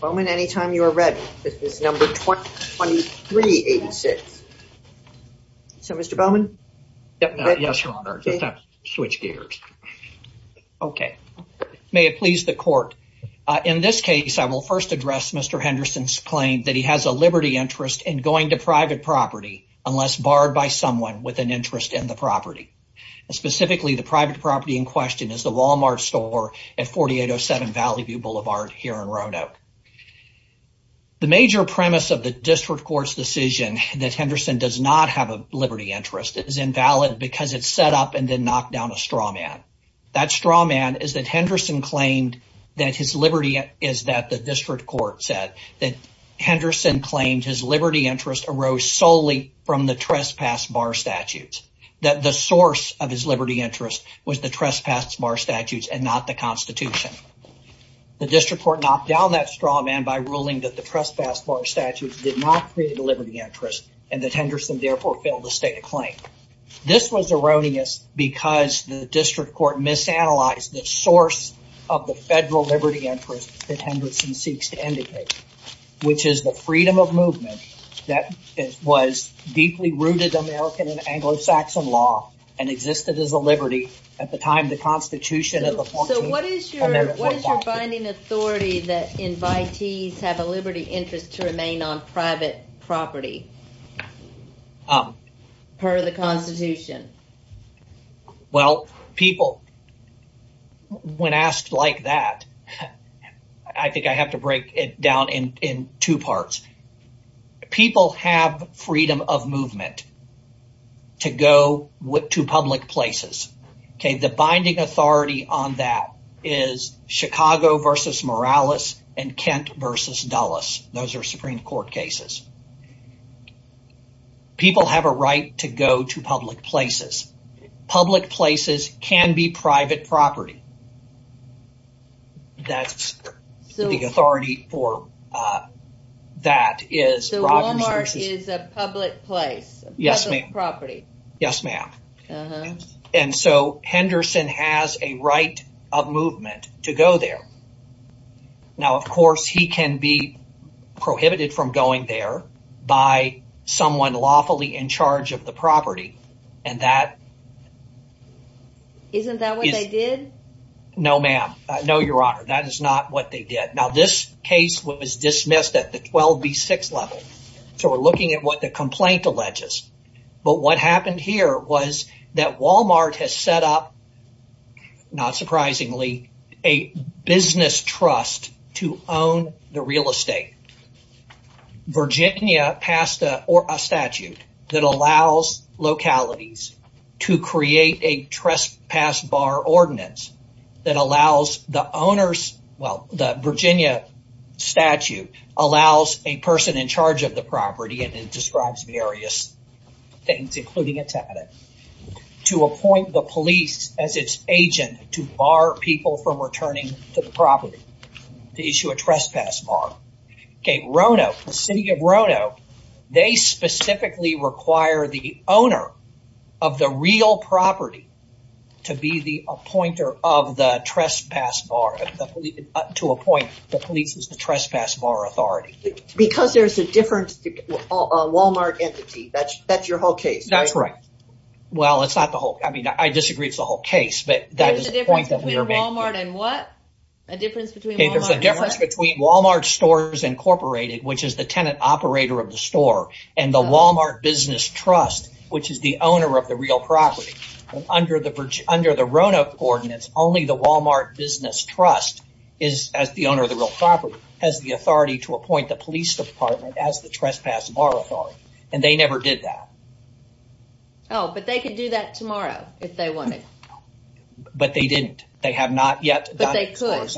Bowman, anytime you are ready. This is number 2386. So, Mr. Bowman. Yes, your honor. Switch gears. Okay. May it please the court. In this case, I will first address Mr. Henderson's claim that he has a liberty interest in going to private property unless barred by someone with an interest in the property. Specifically, the private property in question is the Walmart store at 4807 Valley View Boulevard here in Roanoke. The major premise of the district court's decision that Henderson does not have a liberty interest is invalid because it's set up and then knocked down a straw man. That straw man is that Henderson claimed that his liberty is that the district court said that Henderson claimed his liberty interest arose solely from the trespass bar statutes, that the source of his liberty interest was the trespass bar statutes and not the constitution. The district court knocked down that straw man by ruling that the trespass bar statutes did not create a liberty interest and that Henderson therefore failed to state a claim. This was erroneous because the district court misanalyzed the source of the federal liberty interest that Henderson seeks to indicate, which is the freedom of movement that was deeply rooted American and post-Saxon law and existed as a liberty at the time the constitution of the 14th Amendment was adopted. So what is your binding authority that invitees have a liberty interest to remain on private property per the constitution? Well, people, when asked like that, I think I have to break it down in two parts. People have freedom of movement. To public places. The binding authority on that is Chicago versus Morales and Kent versus Dulles. Those are Supreme Court cases. People have a right to go to public places. Public places can be Yes, ma'am. And so Henderson has a right of movement to go there. Now, of course, he can be prohibited from going there by someone lawfully in charge of the property and that Isn't that what they did? No, ma'am. No, your honor. That is not what they did. Now, this case was dismissed at the 12B6 level. So we're looking at what the complaint alleges. But what happened here was that Walmart has set up, not surprisingly, a business trust to own the real estate. Virginia passed a statute that allows localities to create a trespass bar ordinance that allows the owners. Well, the Virginia statute allows a person in charge of property and it describes various things, including a tenant, to appoint the police as its agent to bar people from returning to the property to issue a trespass bar. Okay. Rono, the city of Rono, they specifically require the owner of the real property to be the appointer of the trespass bar to appoint the police as the trespass bar authority. Because there's a different Walmart entity. That's your whole case. That's right. Well, it's not the whole. I mean, I disagree. It's the whole case, but that is the point that we are making. There's a difference between Walmart and what? There's a difference between Walmart Stores Incorporated, which is the tenant operator of the store, and the Walmart Business Trust, which is the owner of the real property. Under the Rono ordinance, only the Walmart Business Trust is, as the owner of the real property, has the authority to appoint the police department as the trespass bar authority, and they never did that. Oh, but they could do that tomorrow if they wanted. But they didn't. They have not yet. But they could.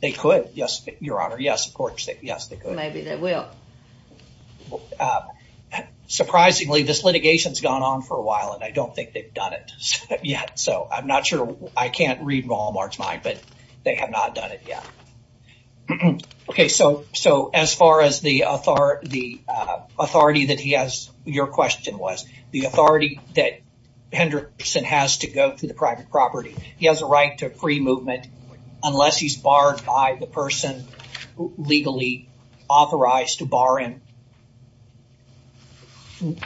They could. Yes, Your Honor. Yes, of course. Yes, they could. Maybe they will. Surprisingly, this litigation's gone on for a while and I don't think they've done it yet, so I'm not sure. I can't read Walmart's mind, but they have not done it yet. Okay, so as far as the authority that he has, your question was, the authority that Henderson has to go to the private property, he has a right to free movement unless he's barred by the person legally authorized to bar him.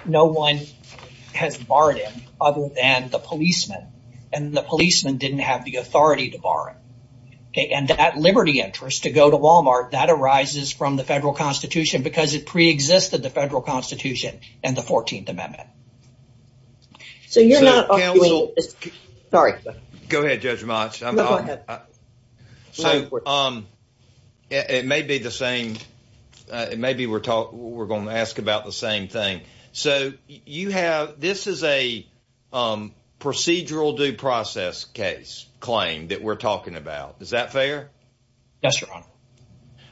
No one has barred him other than the policeman, and the policeman didn't have the authority to bar him. Okay, and that liberty interest to go to Walmart, that arises from the Federal Constitution because it pre-existed the Federal Constitution and the 14th Amendment. So, you're not arguing... Sorry. Go ahead, Judge Motch. Go ahead. So, it may be the same... Maybe we're going to ask about the same thing. So, you have... This is a procedural due process case claim that we're talking about. Is that fair? Yes, Your Honor.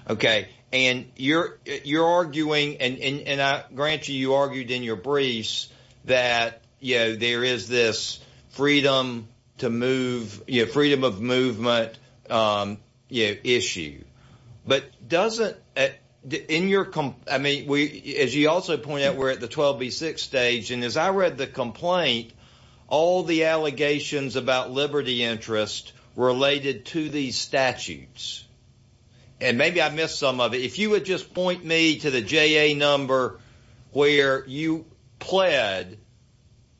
Okay, and you're arguing, and I grant you, you argued in your briefs that there is this freedom to move, freedom of movement issue. But doesn't... As you also pointed out, we're at the 12B6 stage, and as I read the complaint, all the allegations about liberty interest related to these statutes. And maybe I missed some of it. If you would just point me to the JA number where you pled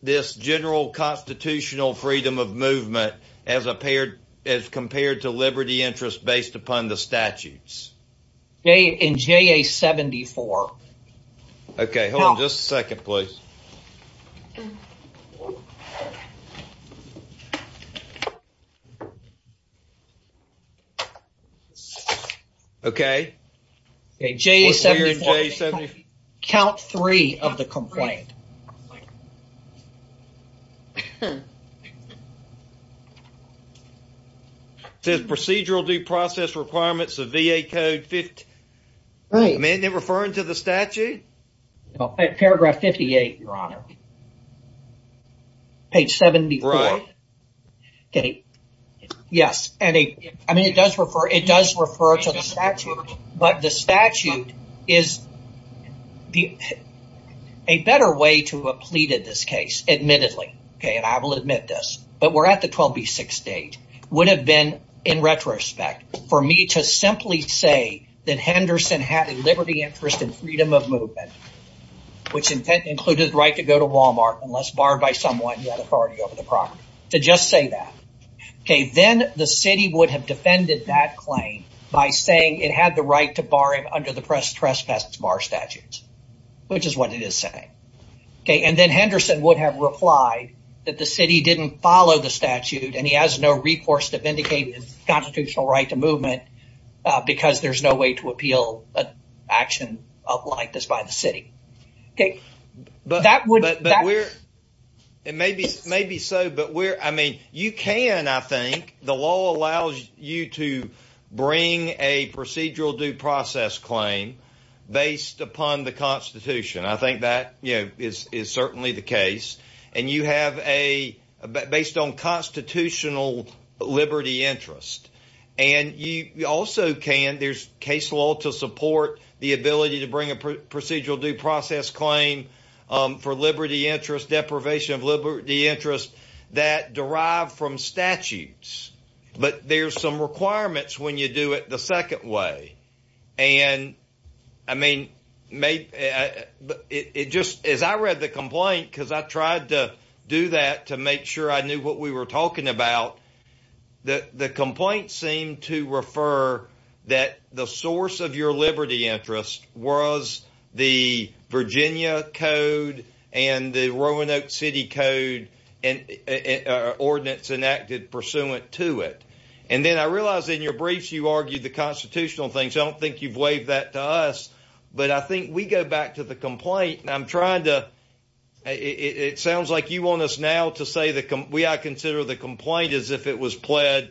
this general constitutional freedom of movement as compared to liberty interest based upon the statutes. In JA 74. Okay, hold on just a second, please. Okay. Okay, JA 74. Count three of the complaint. It says procedural due process requirements of VA code 50. Right. Am I referring to the statute? Paragraph 58, Your Honor. Page 74. Okay. Yes. I mean, it does refer to the statute, but the statute is a better way to have pleaded this case, admittedly. Okay, and I will admit this. But we're at the 12B6 stage. Would have been, in retrospect, for me to simply say that Henderson had a liberty interest in freedom of movement, which included the right to go to Walmart unless barred by someone who had authority over the property. To just say that. Okay, then the city would have defended that claim by saying it had the right to bar him under the trespass bar statutes, which is what it is saying. Okay, and then Henderson would have replied that the city didn't follow the statute and he has no recourse to vindicate his constitutional right to movement because there's no way to appeal action like this by the city. Okay, that would... It may be so, but you can, I think. The law allows you to bring a procedural due process claim based upon the Constitution. I think that is certainly the case. And you have a, based on constitutional liberty interest. And you also can, there's case law to support the ability to bring a procedural due process claim for liberty interest, deprivation of liberty interest that derive from statutes. But there's some requirements when you do it the second way. And I mean, it just, as I read the complaint, because I tried to do that to make sure I knew what we were talking about, the complaint seemed to refer that the source of your liberty interest was the Virginia Code and the Roanoke City Code ordinance enacted pursuant to it. And then I argued the constitutional things. I don't think you've waived that to us, but I think we go back to the complaint and I'm trying to, it sounds like you want us now to say that we are considering the complaint as if it was pled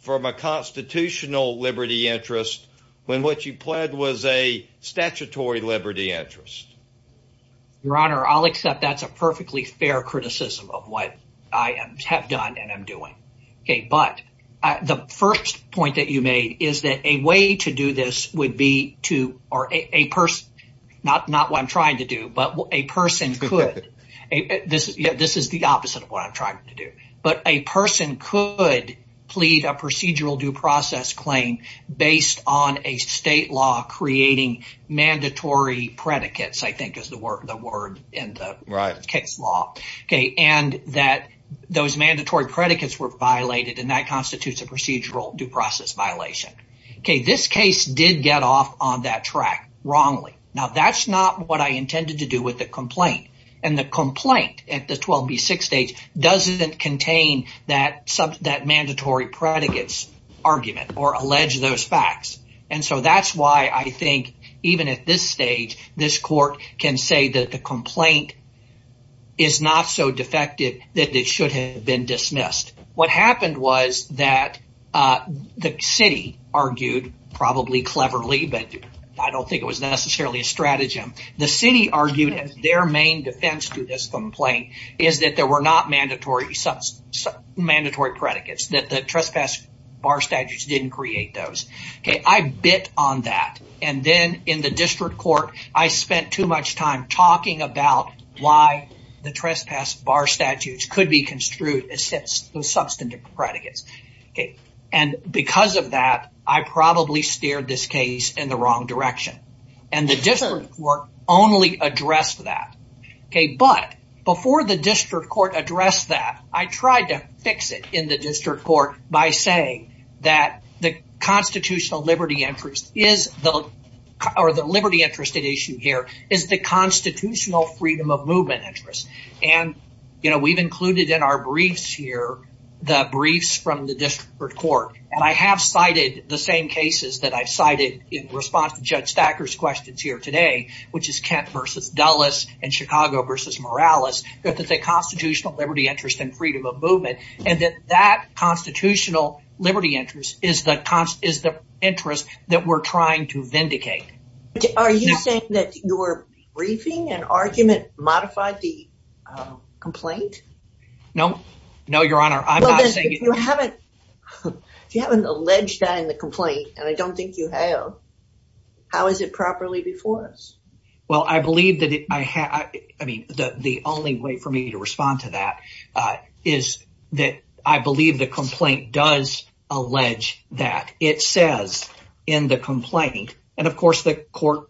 from a constitutional liberty interest when what you pled was a statutory liberty interest. Your Honor, I'll accept that's a perfectly fair criticism of what I have done and am doing. But the first point that you made is that a way to do this would be to, or a person, not what I'm trying to do, but a person could. This is the opposite of what I'm trying to do. But a person could plead a procedural due process claim based on a state law creating mandatory predicates, I think is the word in the case law. And that those mandatory predicates were violated and that constitutes a procedural due process violation. This case did get off on that track wrongly. Now that's not what I intended to do with the complaint. And the complaint at the 12B6 stage doesn't contain that mandatory predicates argument or allege those facts. And so that's why I think even at this stage, this court can say that the complaint is not so defective that it should have been dismissed. What happened was that the city argued, probably cleverly, but I don't think it was necessarily a stratagem. The city argued that their main defense to this complaint is that there were not mandatory predicates, that the bit on that. And then in the district court, I spent too much time talking about why the trespass bar statutes could be construed as substantive predicates. And because of that, I probably steered this case in the wrong direction. And the district court only addressed that. But before the district court addressed that, I tried to fix it in the district court by saying that the interest or the liberty interest at issue here is the constitutional freedom of movement interest. And we've included in our briefs here, the briefs from the district court. And I have cited the same cases that I've cited in response to Judge Thacker's questions here today, which is Kent versus Dulles and Chicago versus Morales, that there's a constitutional liberty interest in interest that we're trying to vindicate. Are you saying that your briefing and argument modified the complaint? No. No, Your Honor. I'm not saying... Well, if you haven't alleged that in the complaint, and I don't think you have, how is it properly before us? Well, I believe that I have... I mean, the only way for me to respond to that is that I believe the complaint does allege that. It says in the complaint, and of course, the court,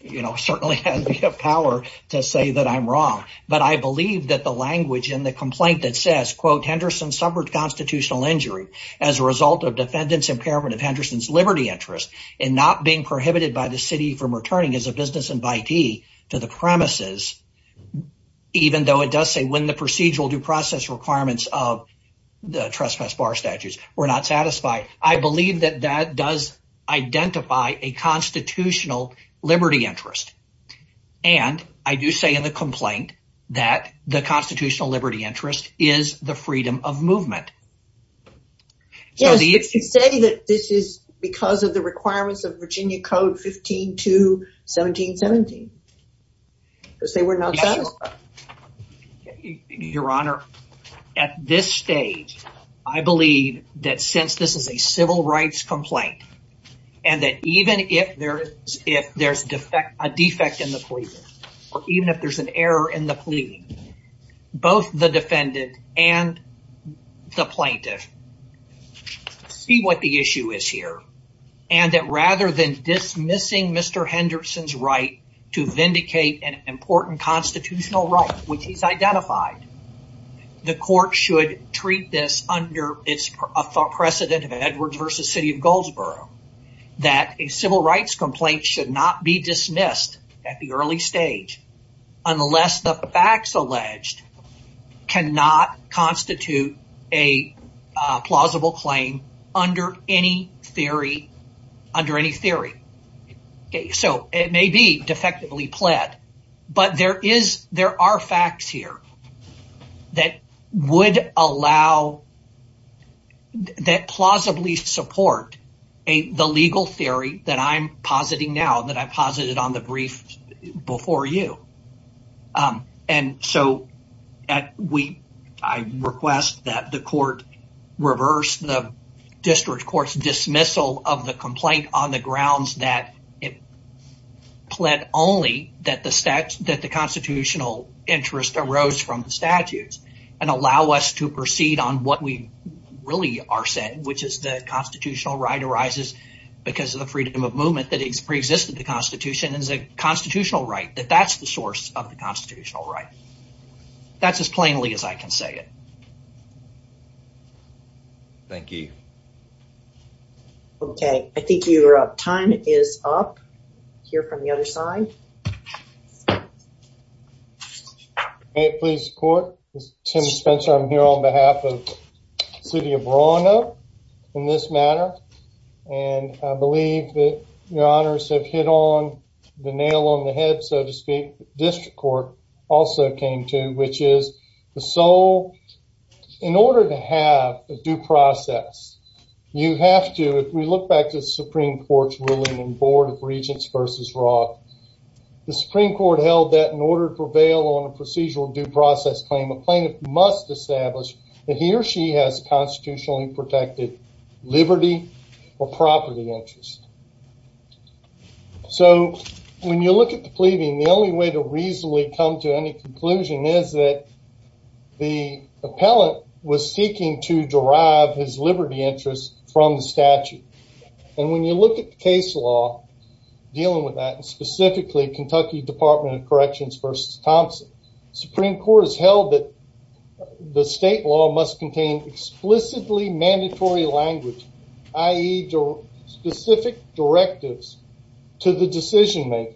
you know, certainly has the power to say that I'm wrong. But I believe that the language in the complaint that says, quote, Henderson suffered constitutional injury as a result of defendants impairment of Henderson's liberty interest in not being prohibited by the city from returning as a business invitee to the premises, even though it does say when the procedural due process requirements of the trespass bar statutes were not satisfied. I believe that that does identify a constitutional liberty interest. And I do say in the complaint that the constitutional liberty interest is the freedom of movement. Yes, but you say that this is because of the requirements of Virginia Code 15-2-1717. Because they were not satisfied. Your Honor, at this stage, I believe that since this is a civil rights complaint, and that even if there's a defect in the plea, or even if there's an error in the plea, both the defendant and the plaintiff see what the issue is here. And that rather than dismissing Henderson's right to vindicate an important constitutional right, which he's identified, the court should treat this under a precedent of Edwards v. City of Goldsboro, that a civil rights complaint should not be dismissed at the early stage unless the facts So, it may be defectively pled, but there are facts here that would allow, that plausibly support the legal theory that I'm positing now, that I posited on the brief before you. And so, I request that the court reverse the district court's dismissal of the pled only that the constitutional interest arose from the statutes, and allow us to proceed on what we really are saying, which is the constitutional right arises because of the freedom of movement that pre-existed the Constitution as a constitutional right, that that's the source of the constitutional right. That's as plainly as I can say it. Okay. Thank you. Okay. I think you're up. Time is up. Hear from the other side. May it please the court. This is Tim Spencer. I'm here on behalf of the City of Verona in this matter. And I believe that your honors have hit on the nail on the head, so to speak, district court also came to, which is the sole, in order to have a due process, you have to, if we look back to the Supreme Court's ruling in Board of Regents versus Roth, the Supreme Court held that in order to prevail on a procedural due process claim, a plaintiff must establish that he or she has constitutionally protected liberty or property interest. So, when you look at the pleading, the only way to reasonably come to any conclusion is that the appellant was seeking to derive his liberty interest from the statute. And when you look at the case law dealing with that, and specifically Kentucky Department of Corrections versus Thompson, Supreme Court has held that the state law must contain explicitly mandatory language, i.e. specific directives to the decision maker.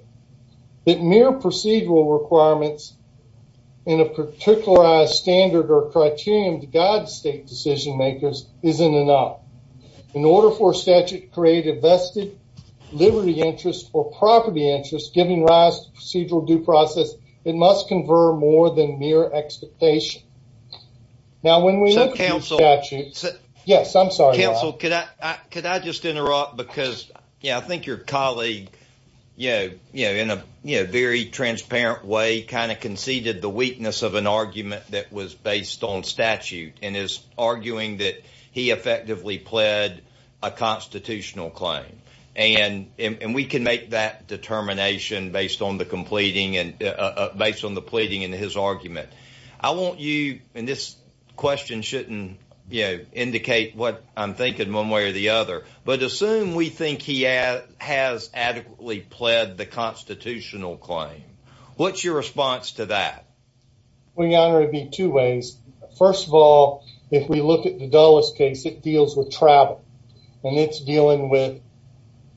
That mere procedural requirements in a particularized standard or criterion to guide state decision makers isn't enough. In order for statute to create a vested liberty interest or property interest giving rise to procedural due process, it must confer more than mere expectation. Now, when we look at the statute, yes, I'm sorry. Counsel, could I just interrupt? Because I think your colleague, in a very transparent way, kind of conceded the weakness of an argument that was based on statute and is arguing that he effectively pled a constitutional claim. And we can make that determination based on the way or the other. But assume we think he has adequately pled the constitutional claim. What's your response to that? Well, Your Honor, it would be two ways. First of all, if we look at the Dulles case, it deals with travel. And it's dealing with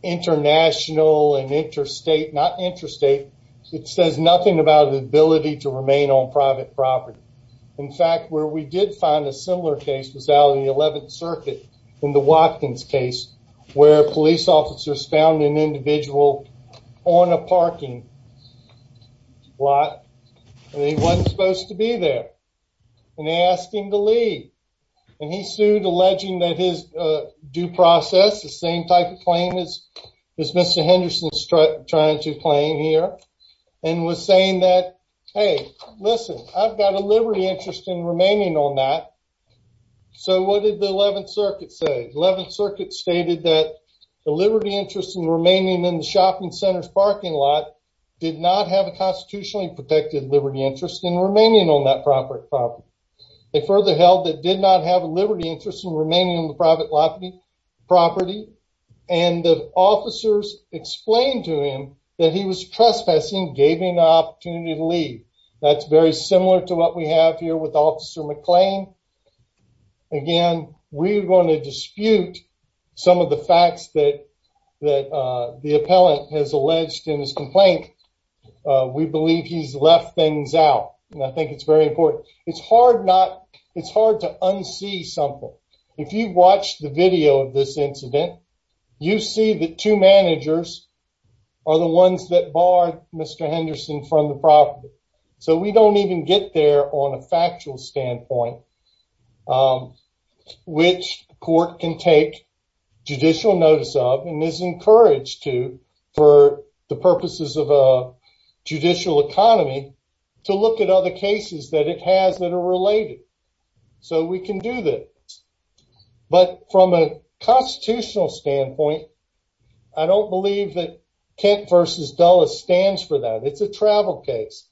international and interstate, not interstate. It says nothing about the ability to remain on private property. In fact, where we did find a similar case was out of the 11th circuit in the Watkins case, where police officers found an individual on a parking lot, and he wasn't supposed to be there. And they asked him to leave. And he sued, alleging that his due process, the same type of claim as Mr. Henderson's trying to claim here, and was saying that, hey, listen, I've got a liberty interest in remaining on that. So what did the 11th circuit say? 11th circuit stated that the liberty interest in remaining in the shopping center's parking lot did not have a constitutionally protected liberty interest in remaining on that property. They further held that did not have a liberty interest in remaining on private property. And the officers explained to him that he was trespassing, gave him the opportunity to leave. That's very similar to what we have here with Officer McClain. Again, we're going to dispute some of the facts that the appellant has alleged in his complaint. We believe he's left things out. And I think it's very important. It's hard not, unsee something. If you watch the video of this incident, you see the two managers are the ones that barred Mr. Henderson from the property. So we don't even get there on a factual standpoint, which court can take judicial notice of, and is encouraged to, for the purposes of a case. But from a constitutional standpoint, I don't believe that Kent v. Dulles stands for that. It's a travel case,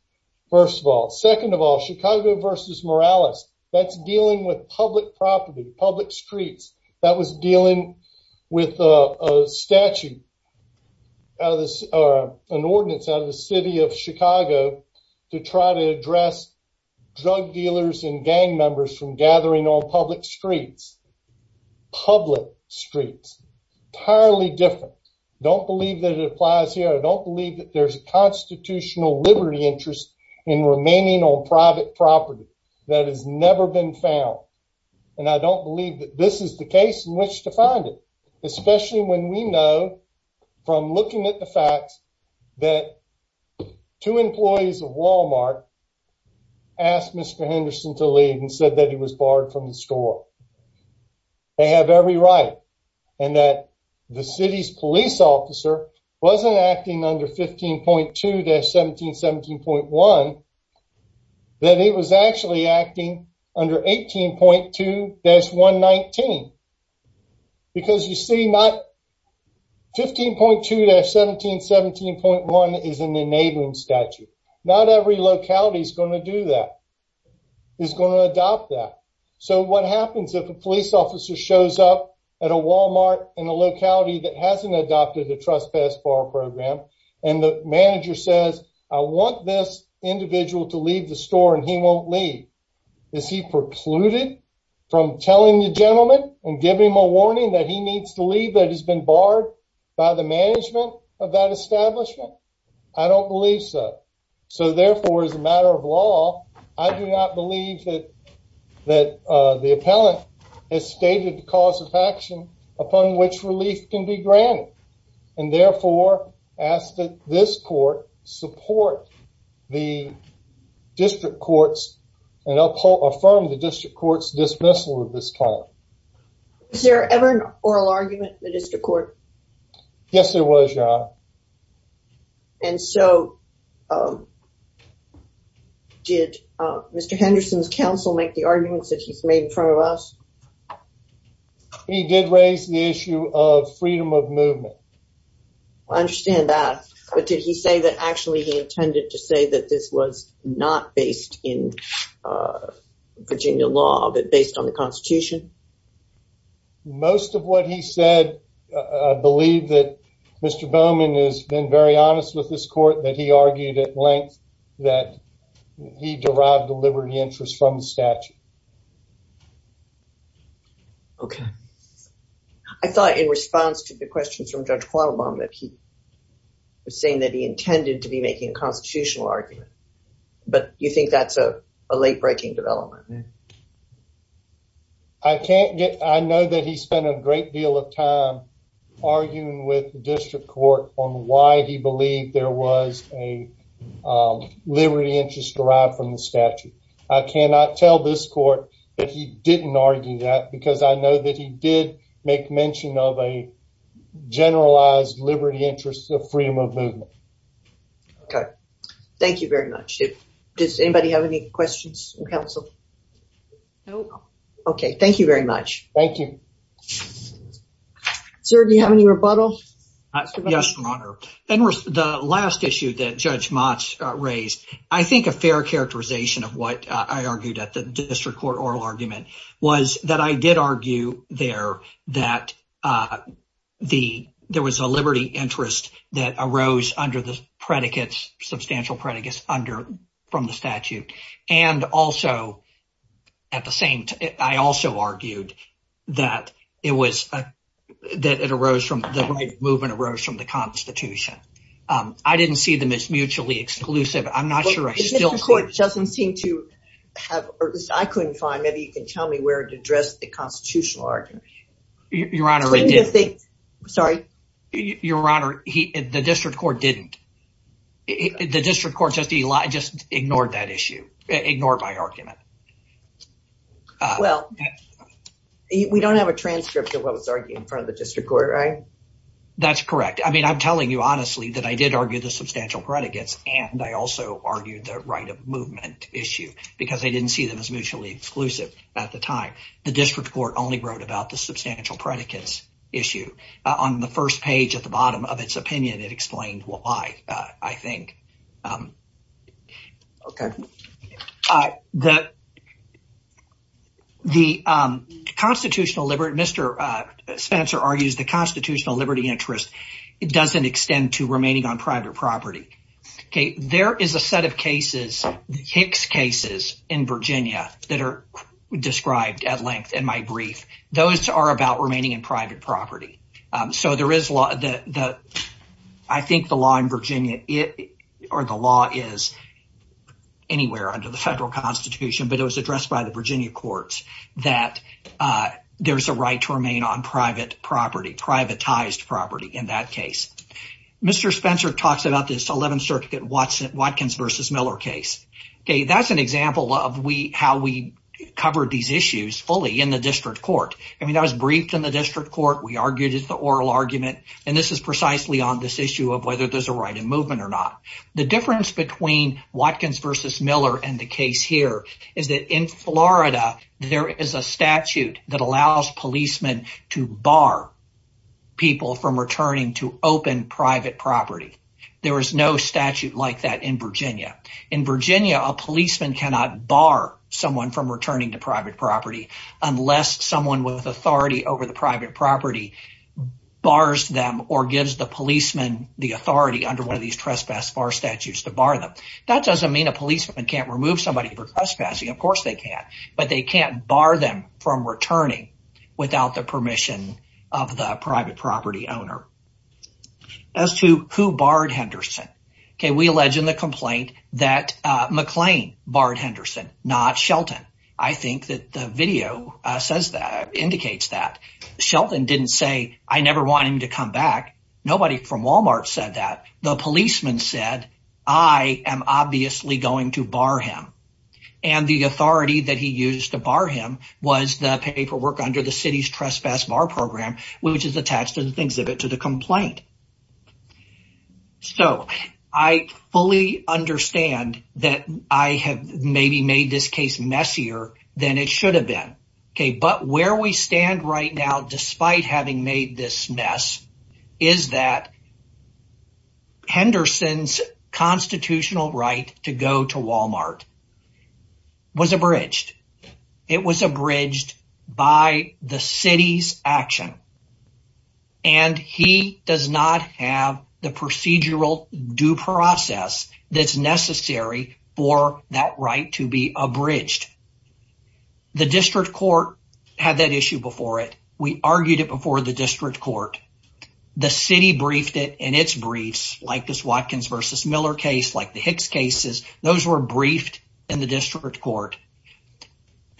first of all. Second of all, Chicago v. Morales, that's dealing with public property, public streets. That was dealing with a statute, an ordinance out of the city of Chicago. Public streets. Entirely different. I don't believe that it applies here. I don't believe that there's a constitutional liberty interest in remaining on private property that has never been found. And I don't believe that this is the case in which to find it, especially when we know, from looking at the facts, that two employees of Walmart asked Mr. Henderson to leave and said that he was barred from the store. They have every right. And that the city's police officer wasn't acting under 15.2-1717.1, that it was actually acting under 18.2-119. Because you see, 15.2-1717.1 is in the neighboring statute. Not every locality is going to do that, is going to adopt that. So what happens if a police officer shows up at a Walmart in a locality that hasn't adopted a trespass bar program, and the manager says, I want this individual to leave the store, and he won't leave. Is he precluded from telling the gentleman and giving him a warning that he needs to leave, that he's been barred by the management of that establishment? I don't believe so. So therefore, as a matter of law, I do not believe that the appellant has stated the cause of action upon which relief can be granted. And therefore, ask that this court support the district courts and affirm the district court's dismissal of this client. Is there ever an oral argument in the district court? Yes, there was, Your Honor. And so did Mr. Henderson's counsel make the arguments that he's made in front of us? He did raise the issue of freedom of movement. I understand that, but did he say that actually he intended to say that this was not based in Virginia law, but based on the Constitution? Most of what he said, I believe that Mr. Bowman has been very honest with this court, that he argued at length that he derived the liberty interest from the statute. Okay. I thought in response to the questions from Judge Quattlebaum that he was saying that he intended to be making a constitutional argument, but you think that's a late-breaking development? I know that he spent a great deal of time arguing with the district court on why he believed there was a liberty interest derived from the statute. I cannot tell this court that he didn't argue that, because I know that he did make mention of a generalized liberty interest of freedom of movement. Does anybody have any questions from counsel? No. Okay. Thank you very much. Thank you. Sir, do you have any rebuttal? Yes, Your Honor. The last issue that Judge Motz raised, I think a fair characterization of what I argued at the district court oral argument was that I did argue there that there was a liberty interest that arose under the substantial predicates from the statute. I also argued that the right of movement arose from the Constitution. I didn't see them as mutually exclusive. I'm not sure. The district court doesn't seem to have, or at least I couldn't find, maybe you can tell me where to address the constitutional argument. Your Honor, the district court didn't. The district court just ignored that issue, ignored my argument. Well, we don't have a transcript of what was argued in front of the district court, right? That's correct. I mean, I'm telling you honestly that I did argue the substantial predicates, and I also argued the right of movement issue, because I didn't see them as mutually exclusive at the time. The district court only wrote about the substantial predicates issue. On the first page at the bottom of its opinion, it explained why, I think. Okay. The constitutional liberty, Mr. Spencer argues the constitutional liberty interest doesn't extend to remaining on private property. There is a set of cases, Hicks cases in Virginia that are described at length in my brief. Those are about remaining in private property. I think the law in Virginia, or the law is anywhere under the federal constitution, but it was addressed by the Virginia courts that there's a right to remain on private property, privatized property in that case. Mr. Spencer talks about this 11th Circuit Watkins versus Miller case. That's an example of how we I mean, that was briefed in the district court. We argued it's the oral argument, and this is precisely on this issue of whether there's a right of movement or not. The difference between Watkins versus Miller and the case here is that in Florida, there is a statute that allows policemen to bar people from returning to open private property. There was no statute like that in Virginia. In Virginia, a policeman cannot bar someone from authority over the private property, bars them or gives the policeman the authority under one of these trespass bar statutes to bar them. That doesn't mean a policeman can't remove somebody for trespassing. Of course they can, but they can't bar them from returning without the permission of the private property owner. As to who barred Henderson, okay, we allege in the complaint that McLean barred Henderson, not Shelton. I think that the video says that, indicates that. Shelton didn't say, I never want him to come back. Nobody from Walmart said that. The policeman said, I am obviously going to bar him. And the authority that he used to bar him was the paperwork under the city's trespass bar program, which is attached to the exhibit to the complaint. So I fully understand that I have maybe made this case messier than it should have been. Okay. But where we stand right now, despite having made this mess, is that Henderson's constitutional right to go to Walmart was abridged. It was abridged by the city's action. And he does not have the procedural due process that's necessary for that right to be abridged. The district court had that issue before it. We argued it before the district court. The city briefed it in its briefs, like this Watkins versus Miller case, like the Hicks cases. Those were briefed in the district court.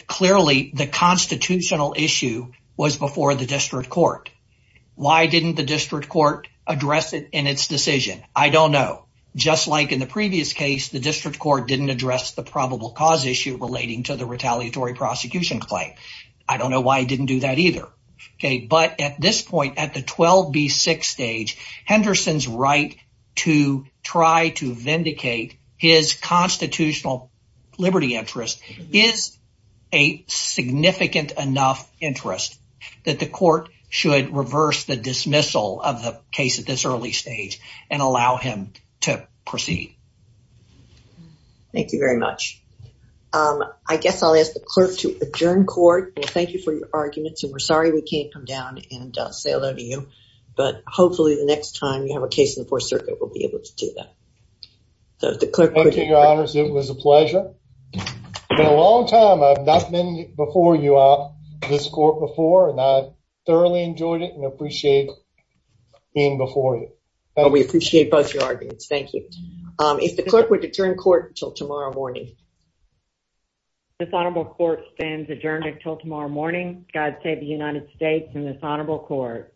Clearly the constitutional issue was before the district court. Why didn't the district court address it in its decision? I don't know. Just like in the previous case, the district court didn't address the probable cause issue relating to the retaliatory prosecution claim. I don't know why it didn't do that either. Okay. But at this point, at the 12B6 stage, Henderson's right to try to vindicate his constitutional liberty interest is a significant enough interest that the court should reverse the dismissal of the case at this early stage and allow him to proceed. Thank you very much. I guess I'll ask the clerk to adjourn court. Thank you for your arguments. And we're sorry we can't come down and say hello to you. But hopefully the next time you have a case in the Fourth Circuit, we'll be able to do that. Thank you, Your Honors. It was a pleasure. It's been a long time. I've not been before you this court before, and I thoroughly enjoyed it and appreciate being before you. We appreciate both your arguments. Thank you. If the clerk would adjourn court until tomorrow morning. This honorable court stands adjourned until tomorrow morning. God save the United States and this honorable court.